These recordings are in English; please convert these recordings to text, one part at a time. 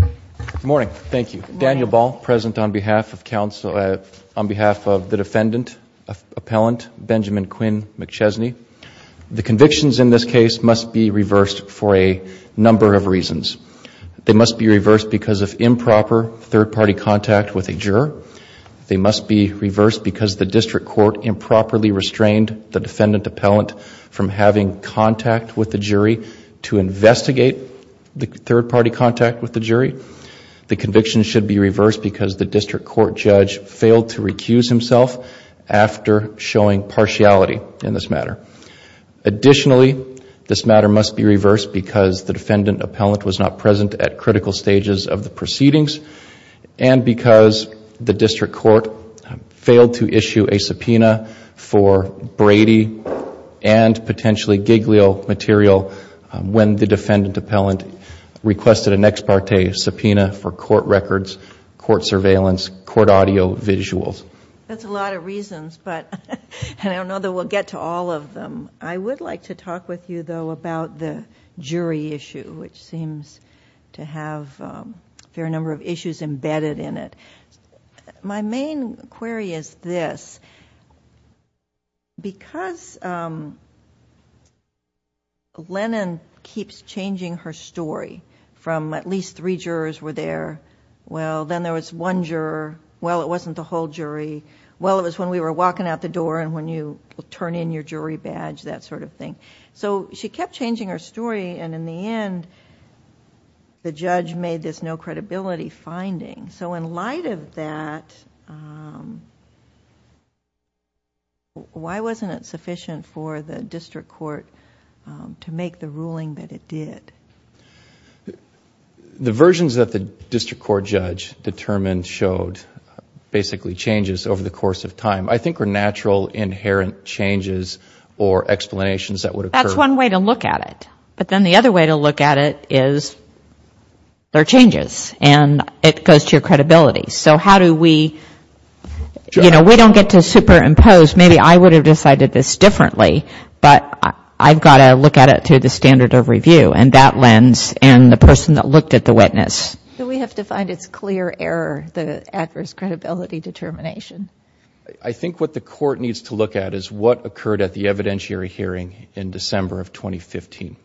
Good morning. Thank you. Daniel Ball, present on behalf of the defendant appellant Benjamin Quinn McChesney. The convictions in this case must be reversed for a number of reasons. They must be reversed because of improper third-party contact with a juror. They must be reversed because the district court improperly restrained the defendant appellant from having contact with the jury to investigate the third-party contact with the jury. The convictions should be reversed because the district court judge failed to recuse himself after showing partiality in this matter. Additionally, this matter must be reversed because the defendant appellant was not present at critical stages of the proceedings and because the district court failed to issue a subpoena for Brady and potentially Giglio material when the defendant appellant requested an ex parte subpoena for court records, court surveillance, court audio visuals. That's a lot of reasons, but I don't know that we'll get to all of them. I would like to talk with you, though, about the jury issue, which seems to have a fair number of issues embedded in it. My main query is this. Because Lennon keeps changing her story from at least three jurors were there, well, then there was one juror, well, it wasn't the whole jury, well, it was when we were walking out the door and when you turn in your jury badge, that sort of thing. She kept changing her story, and in the end, the judge made this no credibility finding. In light of that, why wasn't it sufficient for the district court to make the ruling that it did? The versions that the district court judge determined showed basically changes over the course of time. I think were natural, inherent changes or explanations that would occur. That's one way to look at it. But then the other way to look at it is there are changes, and it goes to your credibility. So how do we, you know, we don't get to superimpose. Maybe I would have decided this differently, but I've got to look at it to the standard of review, and that lens and the person that looked at the witness. So we have to find its clear error, the adverse credibility determination. I think what the court needs to look at is what occurred at the evidentiary hearing in December of 2015.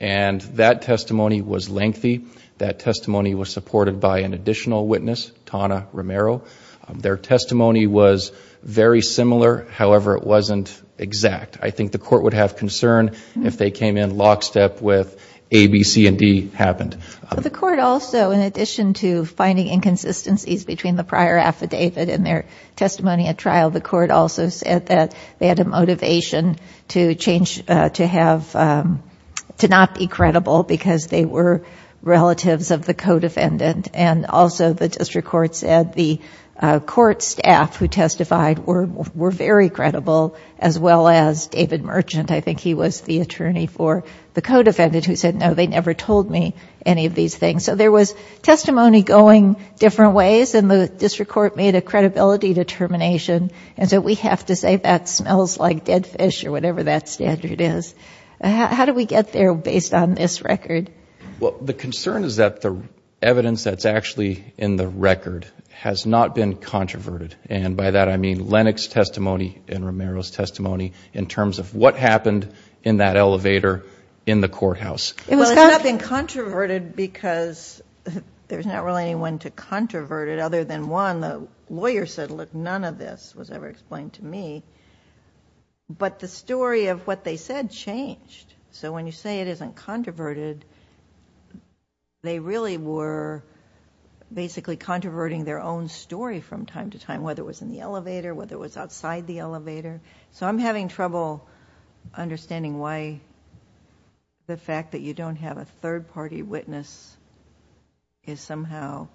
And that testimony was lengthy. That testimony was supported by an additional witness, Tawna Romero. Their testimony was very similar. However, it wasn't exact. I think the court would have concern if they came in lockstep with A, B, C, and D happened. The court also, in addition to finding inconsistencies between the prior affidavit and their testimony at trial, the court also said that they had a motivation to change, to have, to not be credible because they were relatives of the co-defendant. And also the district court said the court staff who testified were very credible, as well as David Merchant. I think he was the attorney for the co-defendant who said, no, they never told me any of these things. So there was testimony going different ways, and the district court made a credibility determination. And so we have to say that smells like dead fish or whatever that standard is. How do we get there based on this record? Well, the concern is that the evidence that's actually in the record has not been controverted. And by that I mean Lennox's testimony and Romero's testimony in terms of what happened in that elevator in the courthouse. Well, it's not been controverted because there's not really anyone to controvert it other than one. The lawyer said, look, none of this was ever explained to me. But the story of what they said changed. So when you say it isn't controverted, they really were basically controverting their own story from time to time, whether it was in the elevator, whether it was outside the elevator. So I'm having trouble understanding why the fact that you don't have a third-party witness somehow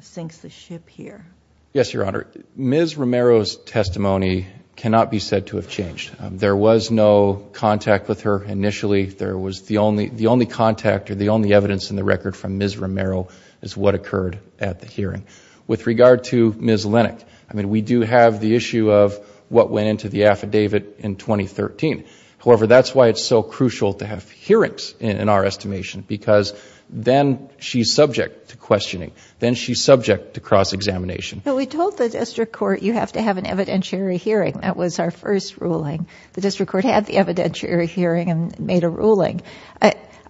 sinks the ship here. Yes, Your Honor. Ms. Romero's testimony cannot be said to have changed. There was no contact with her initially. The only contact or the only evidence in the record from Ms. Romero is what occurred at the hearing. With regard to Ms. Lennox, I mean, we do have the issue of what went into the affidavit in 2013. However, that's why it's so crucial to have hearings in our estimation because then she's subject to questioning. Then she's subject to cross-examination. Well, we told the district court you have to have an evidentiary hearing. That was our first ruling. The district court had the evidentiary hearing and made a ruling.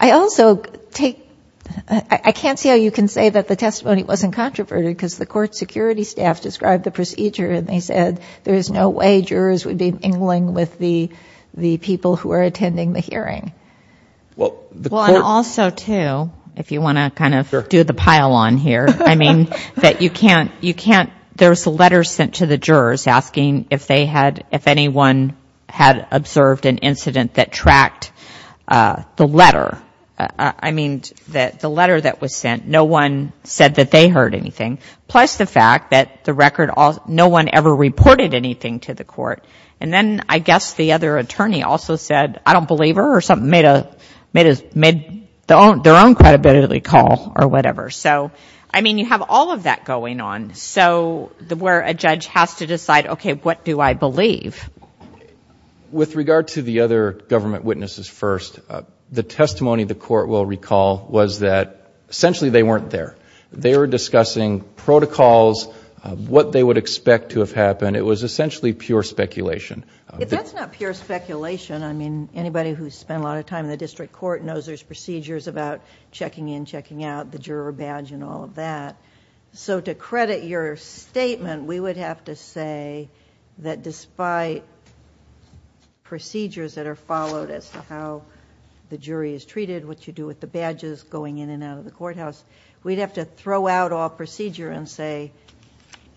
I also take – I can't see how you can say that the testimony wasn't controverted because the court security staff described the procedure and they said there is no way jurors would be mingling with the people who are attending the hearing. Well, the court – Well, and also, too, if you want to kind of do the pile on here, I mean, that you can't – you can't – there was a letter sent to the jurors asking if they had – if anyone had observed an incident that tracked the letter. I mean, the letter that was sent, no one said that they heard anything. Plus the fact that the record – no one ever reported anything to the court. And then I guess the other attorney also said, I don't believe her or something, made their own credibility call or whatever. So, I mean, you have all of that going on. So where a judge has to decide, okay, what do I believe? With regard to the other government witnesses first, the testimony the court will recall was that essentially they weren't there. They were discussing protocols, what they would expect to have happened. It was essentially pure speculation. If that's not pure speculation, I mean, anybody who's spent a lot of time in the district court knows there's procedures about checking in, checking out, the juror badge and all of that. So to credit your statement, we would have to say that despite procedures that are followed as to how the jury is treated, what you do with the badges going in and out of the courthouse, we'd have to throw out all procedure and say,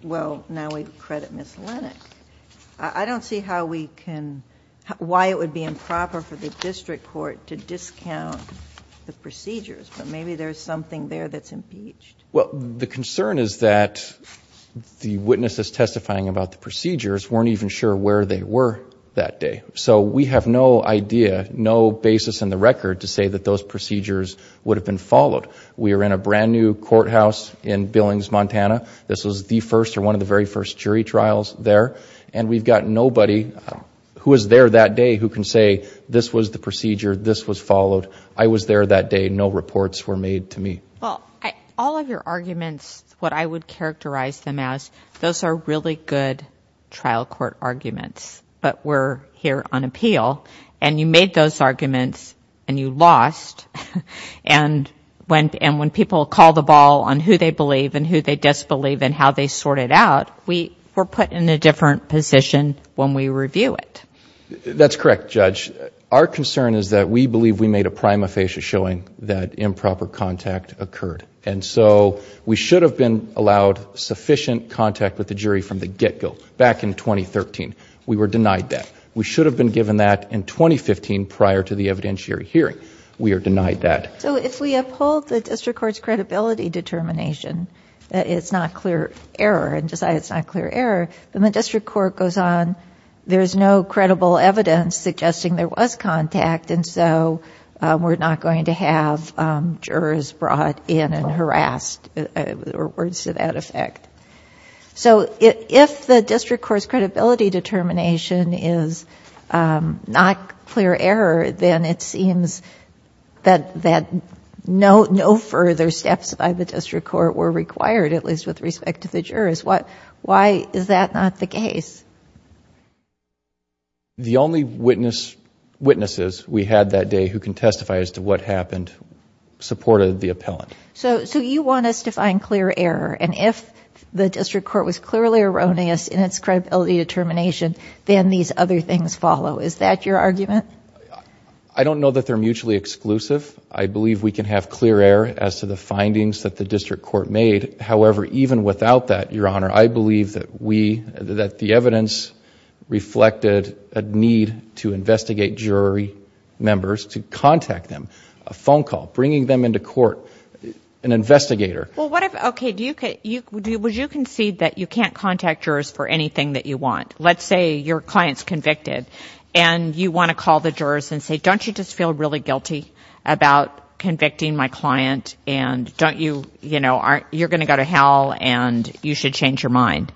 well, now we credit Ms. Lenach. I don't see how we can – why it would be improper for the district court to discount the procedures. But maybe there's something there that's impeached. Well, the concern is that the witnesses testifying about the procedures weren't even sure where they were that day. So we have no idea, no basis in the record to say that those procedures would have been followed. We are in a brand new courthouse in Billings, Montana. This was the first or one of the very first jury trials there. And we've got nobody who was there that day who can say this was the procedure, this was followed. I was there that day. No reports were made to me. Well, all of your arguments, what I would characterize them as, those are really good trial court arguments, but we're here on appeal. And you made those arguments and you lost. And when people call the ball on who they believe and who they disbelieve and how they sort it out, we're put in a different position when we review it. That's correct, Judge. Our concern is that we believe we made a prima facie showing that improper contact occurred. And so we should have been allowed sufficient contact with the jury from the get-go back in 2013. We were denied that. We should have been given that in 2015 prior to the evidentiary hearing. We are denied that. So if we uphold the district court's credibility determination that it's not clear error and decide it's not clear error, then the district court goes on, there's no credible evidence suggesting there was contact, and so we're not going to have jurors brought in and harassed or words to that effect. So if the district court's credibility determination is not clear error, then it seems that no further steps by the district court were required, at least with respect to the jurors. Why is that not the case? The only witnesses we had that day who can testify as to what happened supported the appellant. So you want us to find clear error, and if the district court was clearly erroneous in its credibility determination, then these other things follow. Is that your argument? I don't know that they're mutually exclusive. I believe we can have clear error as to the findings that the district court made. However, even without that, Your Honor, I believe that the evidence reflected a need to investigate jury members, to contact them, a phone call, bringing them into court, an investigator. Well, what if, okay, would you concede that you can't contact jurors for anything that you want? Let's say your client's convicted, and you want to call the jurors and say, don't you just feel really guilty about convicting my client, and don't you, you know, you're going to go to hell and you should change your mind.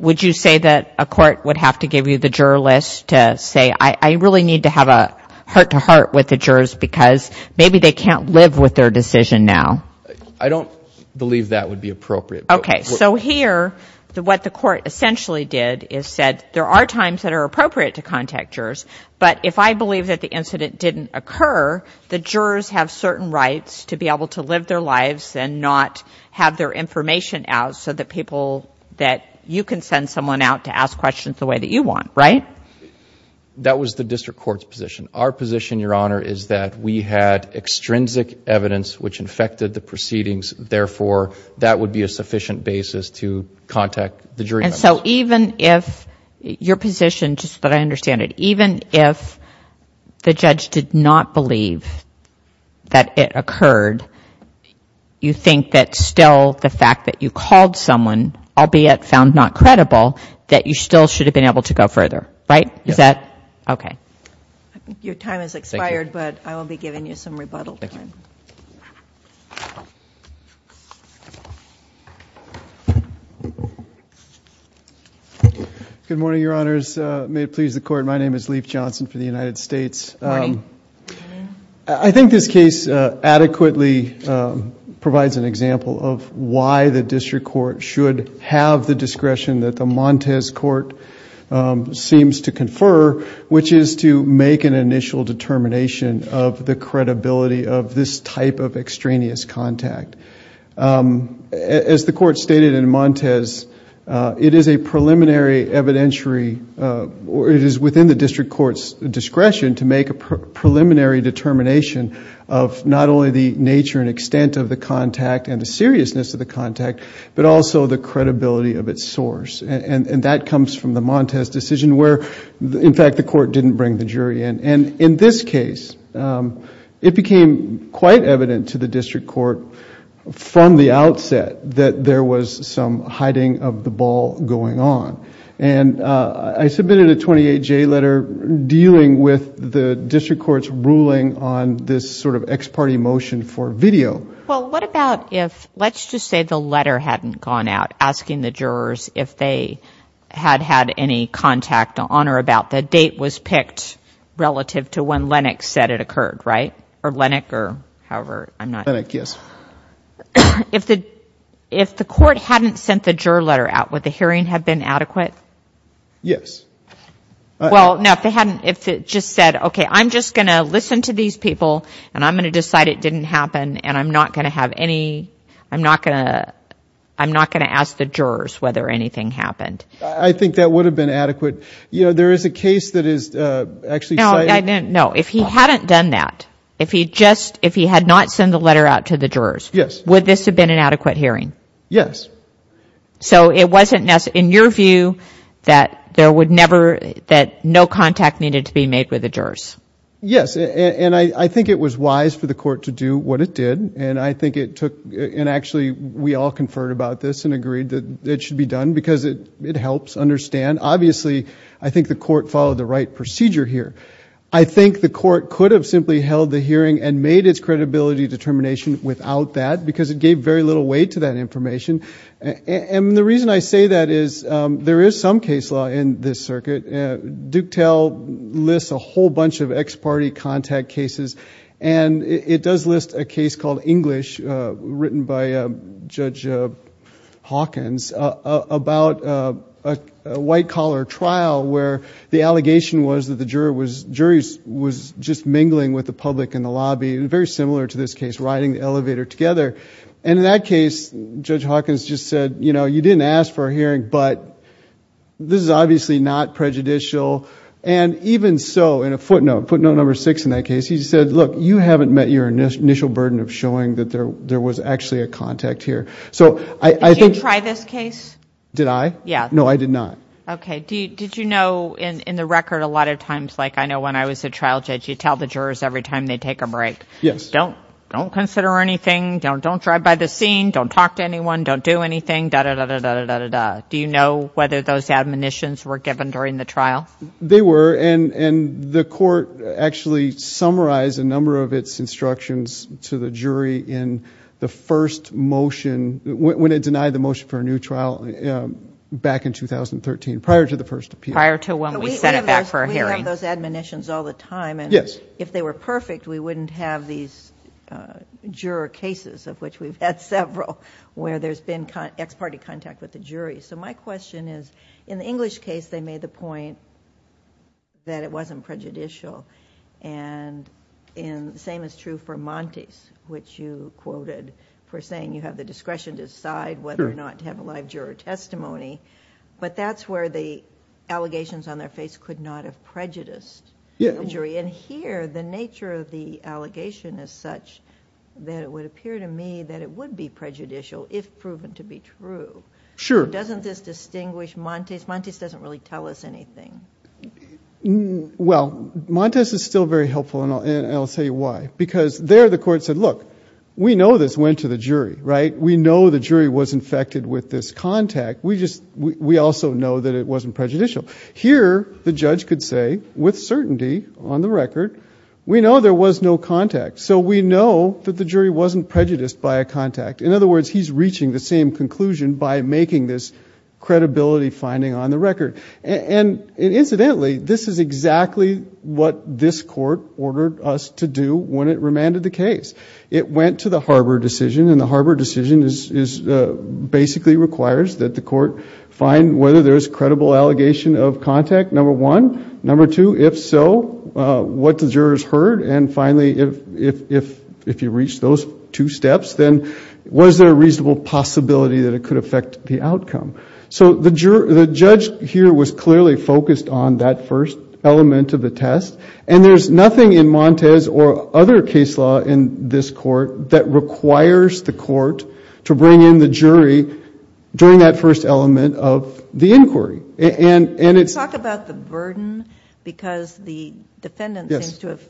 Would you say that a court would have to give you the juror list to say, I really need to have a heart-to-heart with the jurors because maybe they can't live with their decision now? I don't believe that would be appropriate. Okay. So here, what the court essentially did is said there are times that are appropriate to contact jurors, but if I believe that the incident didn't occur, the jurors have certain rights to be able to live their lives and not have their information out so that people that you can send someone out to ask questions the way that you want, right? That was the district court's position. Our position, Your Honor, is that we had extrinsic evidence which infected the proceedings, therefore that would be a sufficient basis to contact the jury. And so even if your position, just so that I understand it, even if the judge did not believe that it occurred, you think that still the fact that you called someone, albeit found not credible, that you still should have been able to go further, right? Is that okay? Your time has expired, but I will be giving you some rebuttal time. Thank you. Good morning, Your Honors. May it please the Court, my name is Leif Johnson for the United States. Good morning. I think this case adequately provides an example of why the district court should have the discretion that the Montes Court seems to confer, which is to make an initial determination of the credibility of this type of extraneous contact. As the Court stated in Montes, it is a preliminary evidentiary, or it is within the district court's discretion to make a preliminary determination of not only the nature and extent of the contact and the seriousness of the contact, but also the credibility of its source. And that comes from the Montes decision where, in fact, the Court didn't bring the jury in. And in this case, it became quite evident to the district court from the outset that there was some hiding of the ball going on. And I submitted a 28-J letter dealing with the district court's ruling on this sort of ex parte motion for video. Well, what about if, let's just say the letter hadn't gone out asking the jurors if they had had any contact on or about the date was picked relative to when Lennox said it occurred, right? Or Lennox or however, I'm not sure. Lennox, yes. If the Court hadn't sent the juror letter out, would the hearing have been adequate? Yes. Well, no, if they hadn't, if they just said, okay, I'm just going to listen to these people and I'm going to decide it didn't happen and I'm not going to have any, I'm not going to ask the jurors whether anything happened. I think that would have been adequate. You know, there is a case that is actually cited. No, if he hadn't done that, if he just, if he had not sent the letter out to the jurors, would this have been an adequate hearing? Yes. So it wasn't, in your view, that there would never, that no contact needed to be made with the jurors? Yes, and I think it was wise for the Court to do what it did. And I think it took, and actually we all conferred about this and agreed that it should be done because it helps understand. Obviously, I think the Court followed the right procedure here. I think the Court could have simply held the hearing and made its credibility determination without that because it gave very little weight to that information. And the reason I say that is there is some case law in this circuit. DukeTel lists a whole bunch of ex-party contact cases, and it does list a case called English written by Judge Hawkins about a white-collar trial where the allegation was that the jury was just mingling with the public in the lobby, very similar to this case, riding the elevator together. And in that case, Judge Hawkins just said, you know, you didn't ask for a hearing, but this is obviously not prejudicial. And even so, in a footnote, footnote number six in that case, he said, look, you haven't met your initial burden of showing that there was actually a contact here. Did you try this case? Did I? Yeah. No, I did not. Okay. Did you know in the record a lot of times, like I know when I was a trial judge, you tell the jurors every time they take a break, don't consider anything, don't drive by the scene, don't talk to anyone, don't do anything, da-da-da-da-da-da-da-da. Do you know whether those admonitions were given during the trial? They were. And the court actually summarized a number of its instructions to the jury in the first motion, when it denied the motion for a new trial back in 2013, prior to the first appeal. Prior to when we sent it back for a hearing. We have those admonitions all the time. Yes. And if they were perfect, we wouldn't have these juror cases, of which we've had several, where there's been ex-party contact with the jury. So my question is, in the English case, they made the point that it wasn't prejudicial. And the same is true for Montes, which you quoted for saying you have the discretion to decide whether or not to have a live juror testimony. But that's where the allegations on their face could not have prejudiced the jury. And here, the nature of the allegation is such that it would appear to me that it would be prejudicial, if proven to be true. Sure. Doesn't this distinguish Montes? Montes doesn't really tell us anything. Well, Montes is still very helpful, and I'll tell you why. Because there the court said, look, we know this went to the jury, right? We know the jury was infected with this contact. We also know that it wasn't prejudicial. Here, the judge could say, with certainty on the record, we know there was no contact. So we know that the jury wasn't prejudiced by a contact. In other words, he's reaching the same conclusion by making this credibility finding on the record. And incidentally, this is exactly what this court ordered us to do when it remanded the case. It went to the Harbor decision, and the Harbor decision basically requires that the court find whether there's credible allegation of contact, number one. Number two, if so, what the jurors heard. And finally, if you reach those two steps, then was there a reasonable possibility that it could affect the outcome? So the judge here was clearly focused on that first element of the test, and there's nothing in Montes or other case law in this court that requires the court to bring in the jury during that first element of the inquiry. Can you talk about the burden? Because the defendant seems to have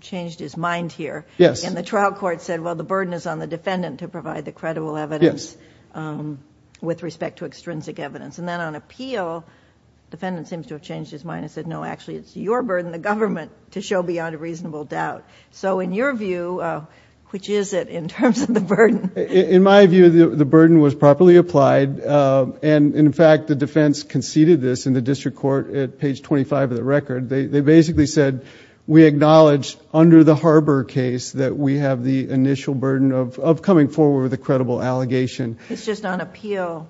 changed his mind here. Yes. And the trial court said, well, the burden is on the defendant to provide the credible evidence with respect to extrinsic evidence. And then on appeal, the defendant seems to have changed his mind and said, no, actually, it's your burden, the government, to show beyond a reasonable doubt. So in your view, which is it in terms of the burden? In my view, the burden was properly applied. And in fact, the defense conceded this in the district court at page 25 of the record. They basically said, we acknowledge under the Harbor case that we have the initial burden of coming forward with a credible allegation. It's just on appeal,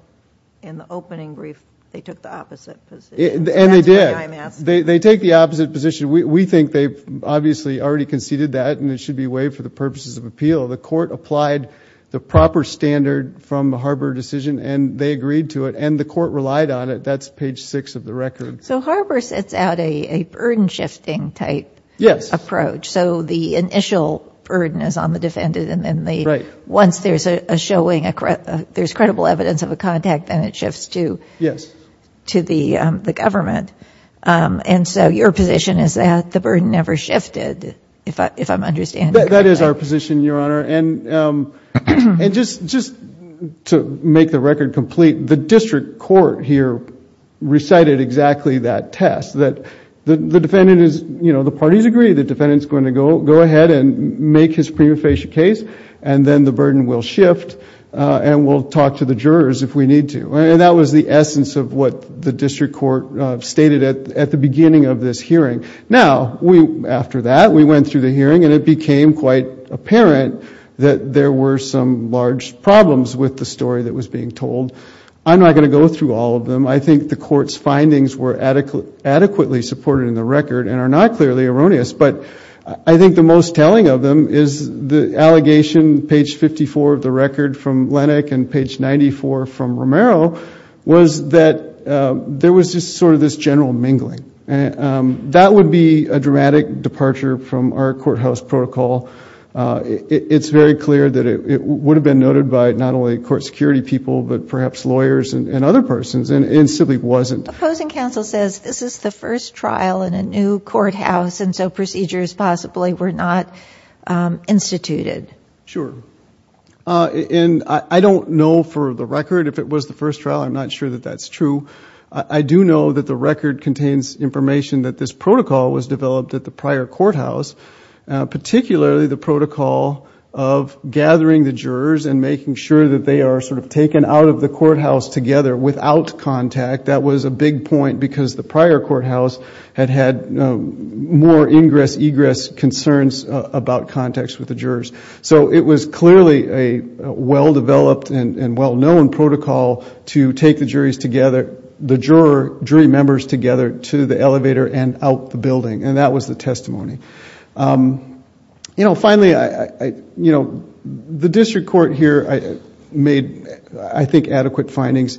in the opening brief, they took the opposite position. And they did. That's why I'm asking. They take the opposite position. We think they've obviously already conceded that, and it should be waived for the purposes of appeal. The court applied the proper standard from the Harbor decision, and they agreed to it. And the court relied on it. That's page six of the record. So Harbor sets out a burden-shifting type approach. Yes. So the initial burden is on the defendant. Right. And then once there's a showing, there's credible evidence of a contact, then it shifts to the government. And so your position is that the burden never shifted, if I'm understanding correctly. That is our position, Your Honor. And just to make the record complete, the district court here recited exactly that test. The defendant is, you know, the parties agree the defendant is going to go ahead and make his prima facie case, and then the burden will shift, and we'll talk to the jurors if we need to. And that was the essence of what the district court stated at the beginning of this hearing. Now, after that, we went through the hearing, and it became quite apparent that there were some large problems with the story that was being told. I'm not going to go through all of them. I think the court's findings were adequately supported in the record and are not clearly erroneous. But I think the most telling of them is the allegation, page 54 of the record from Lenach and page 94 from Romero, was that there was just sort of this general mingling. That would be a dramatic departure from our courthouse protocol. It's very clear that it would have been noted by not only court security people, but perhaps lawyers and other persons, and it simply wasn't. The opposing counsel says this is the first trial in a new courthouse, and so procedures possibly were not instituted. Sure. And I don't know for the record if it was the first trial. I'm not sure that that's true. I do know that the record contains information that this protocol was developed at the prior courthouse, particularly the protocol of gathering the jurors and making sure that they are sort of taken out of the courthouse together without contact. That was a big point because the prior courthouse had had more ingress-egress concerns about contacts with the jurors. So it was clearly a well-developed and well-known protocol to take the jurors together, the jury members together to the elevator and out the building, and that was the testimony. Finally, the district court here made, I think, adequate findings.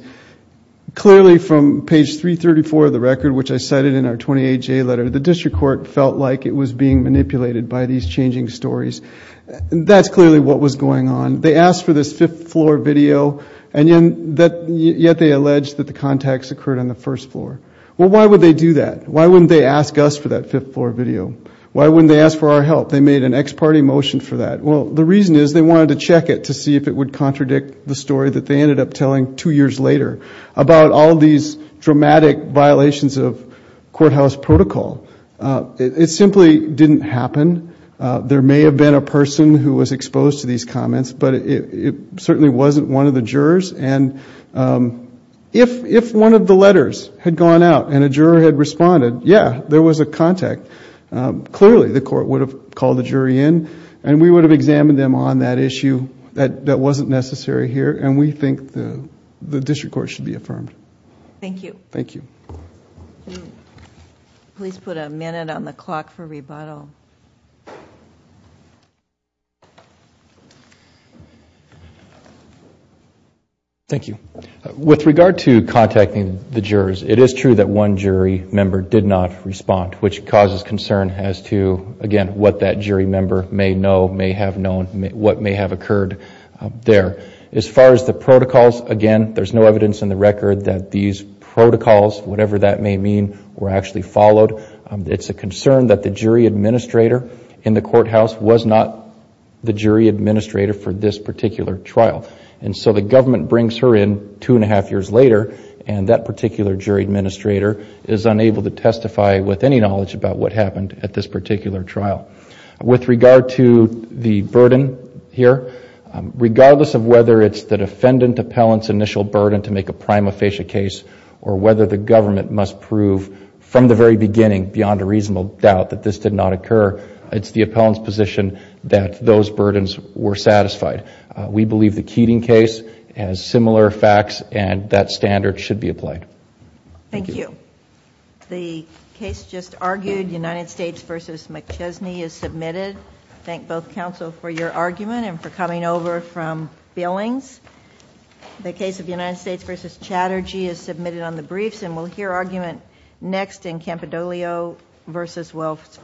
Clearly from page 334 of the record, which I cited in our 28J letter, the district court felt like it was being manipulated by these changing stories. That's clearly what was going on. They asked for this fifth floor video, and yet they alleged that the contacts occurred on the first floor. Well, why would they do that? Why wouldn't they ask us for that fifth floor video? Why wouldn't they ask for our help? They made an ex parte motion for that. Well, the reason is they wanted to check it to see if it would contradict the story that they ended up telling two years later about all these dramatic violations of courthouse protocol. It simply didn't happen. There may have been a person who was exposed to these comments, but it certainly wasn't one of the jurors. And if one of the letters had gone out and a juror had responded, yeah, there was a contact, clearly the court would have called the jury in and we would have examined them on that issue. That wasn't necessary here, and we think the district court should be affirmed. Thank you. Thank you. Please put a minute on the clock for rebuttal. Thank you. With regard to contacting the jurors, it is true that one jury member did not respond, which causes concern as to, again, what that jury member may know, may have known, what may have occurred there. As far as the protocols, again, there's no evidence in the record that these protocols, whatever that may mean, were actually followed. It's a concern that the jury administrator in the courthouse was not the jury administrator for this particular trial. And so the government brings her in two and a half years later, and that particular jury administrator is unable to testify with any knowledge about what happened at this particular trial. With regard to the burden here, regardless of whether it's the defendant appellant's initial burden to make a prima facie case or whether the government must prove from the very beginning, beyond a reasonable doubt, that this did not occur, it's the appellant's position that those burdens were satisfied. We believe the Keating case has similar facts, and that standard should be applied. Thank you. The case just argued, United States v. McChesney, is submitted. Thank both counsel for your argument and for coming over from Billings. The case of United States v. Chatterjee is submitted on the briefs, and we'll hear argument next in Campidoglio v. Wells Fargo.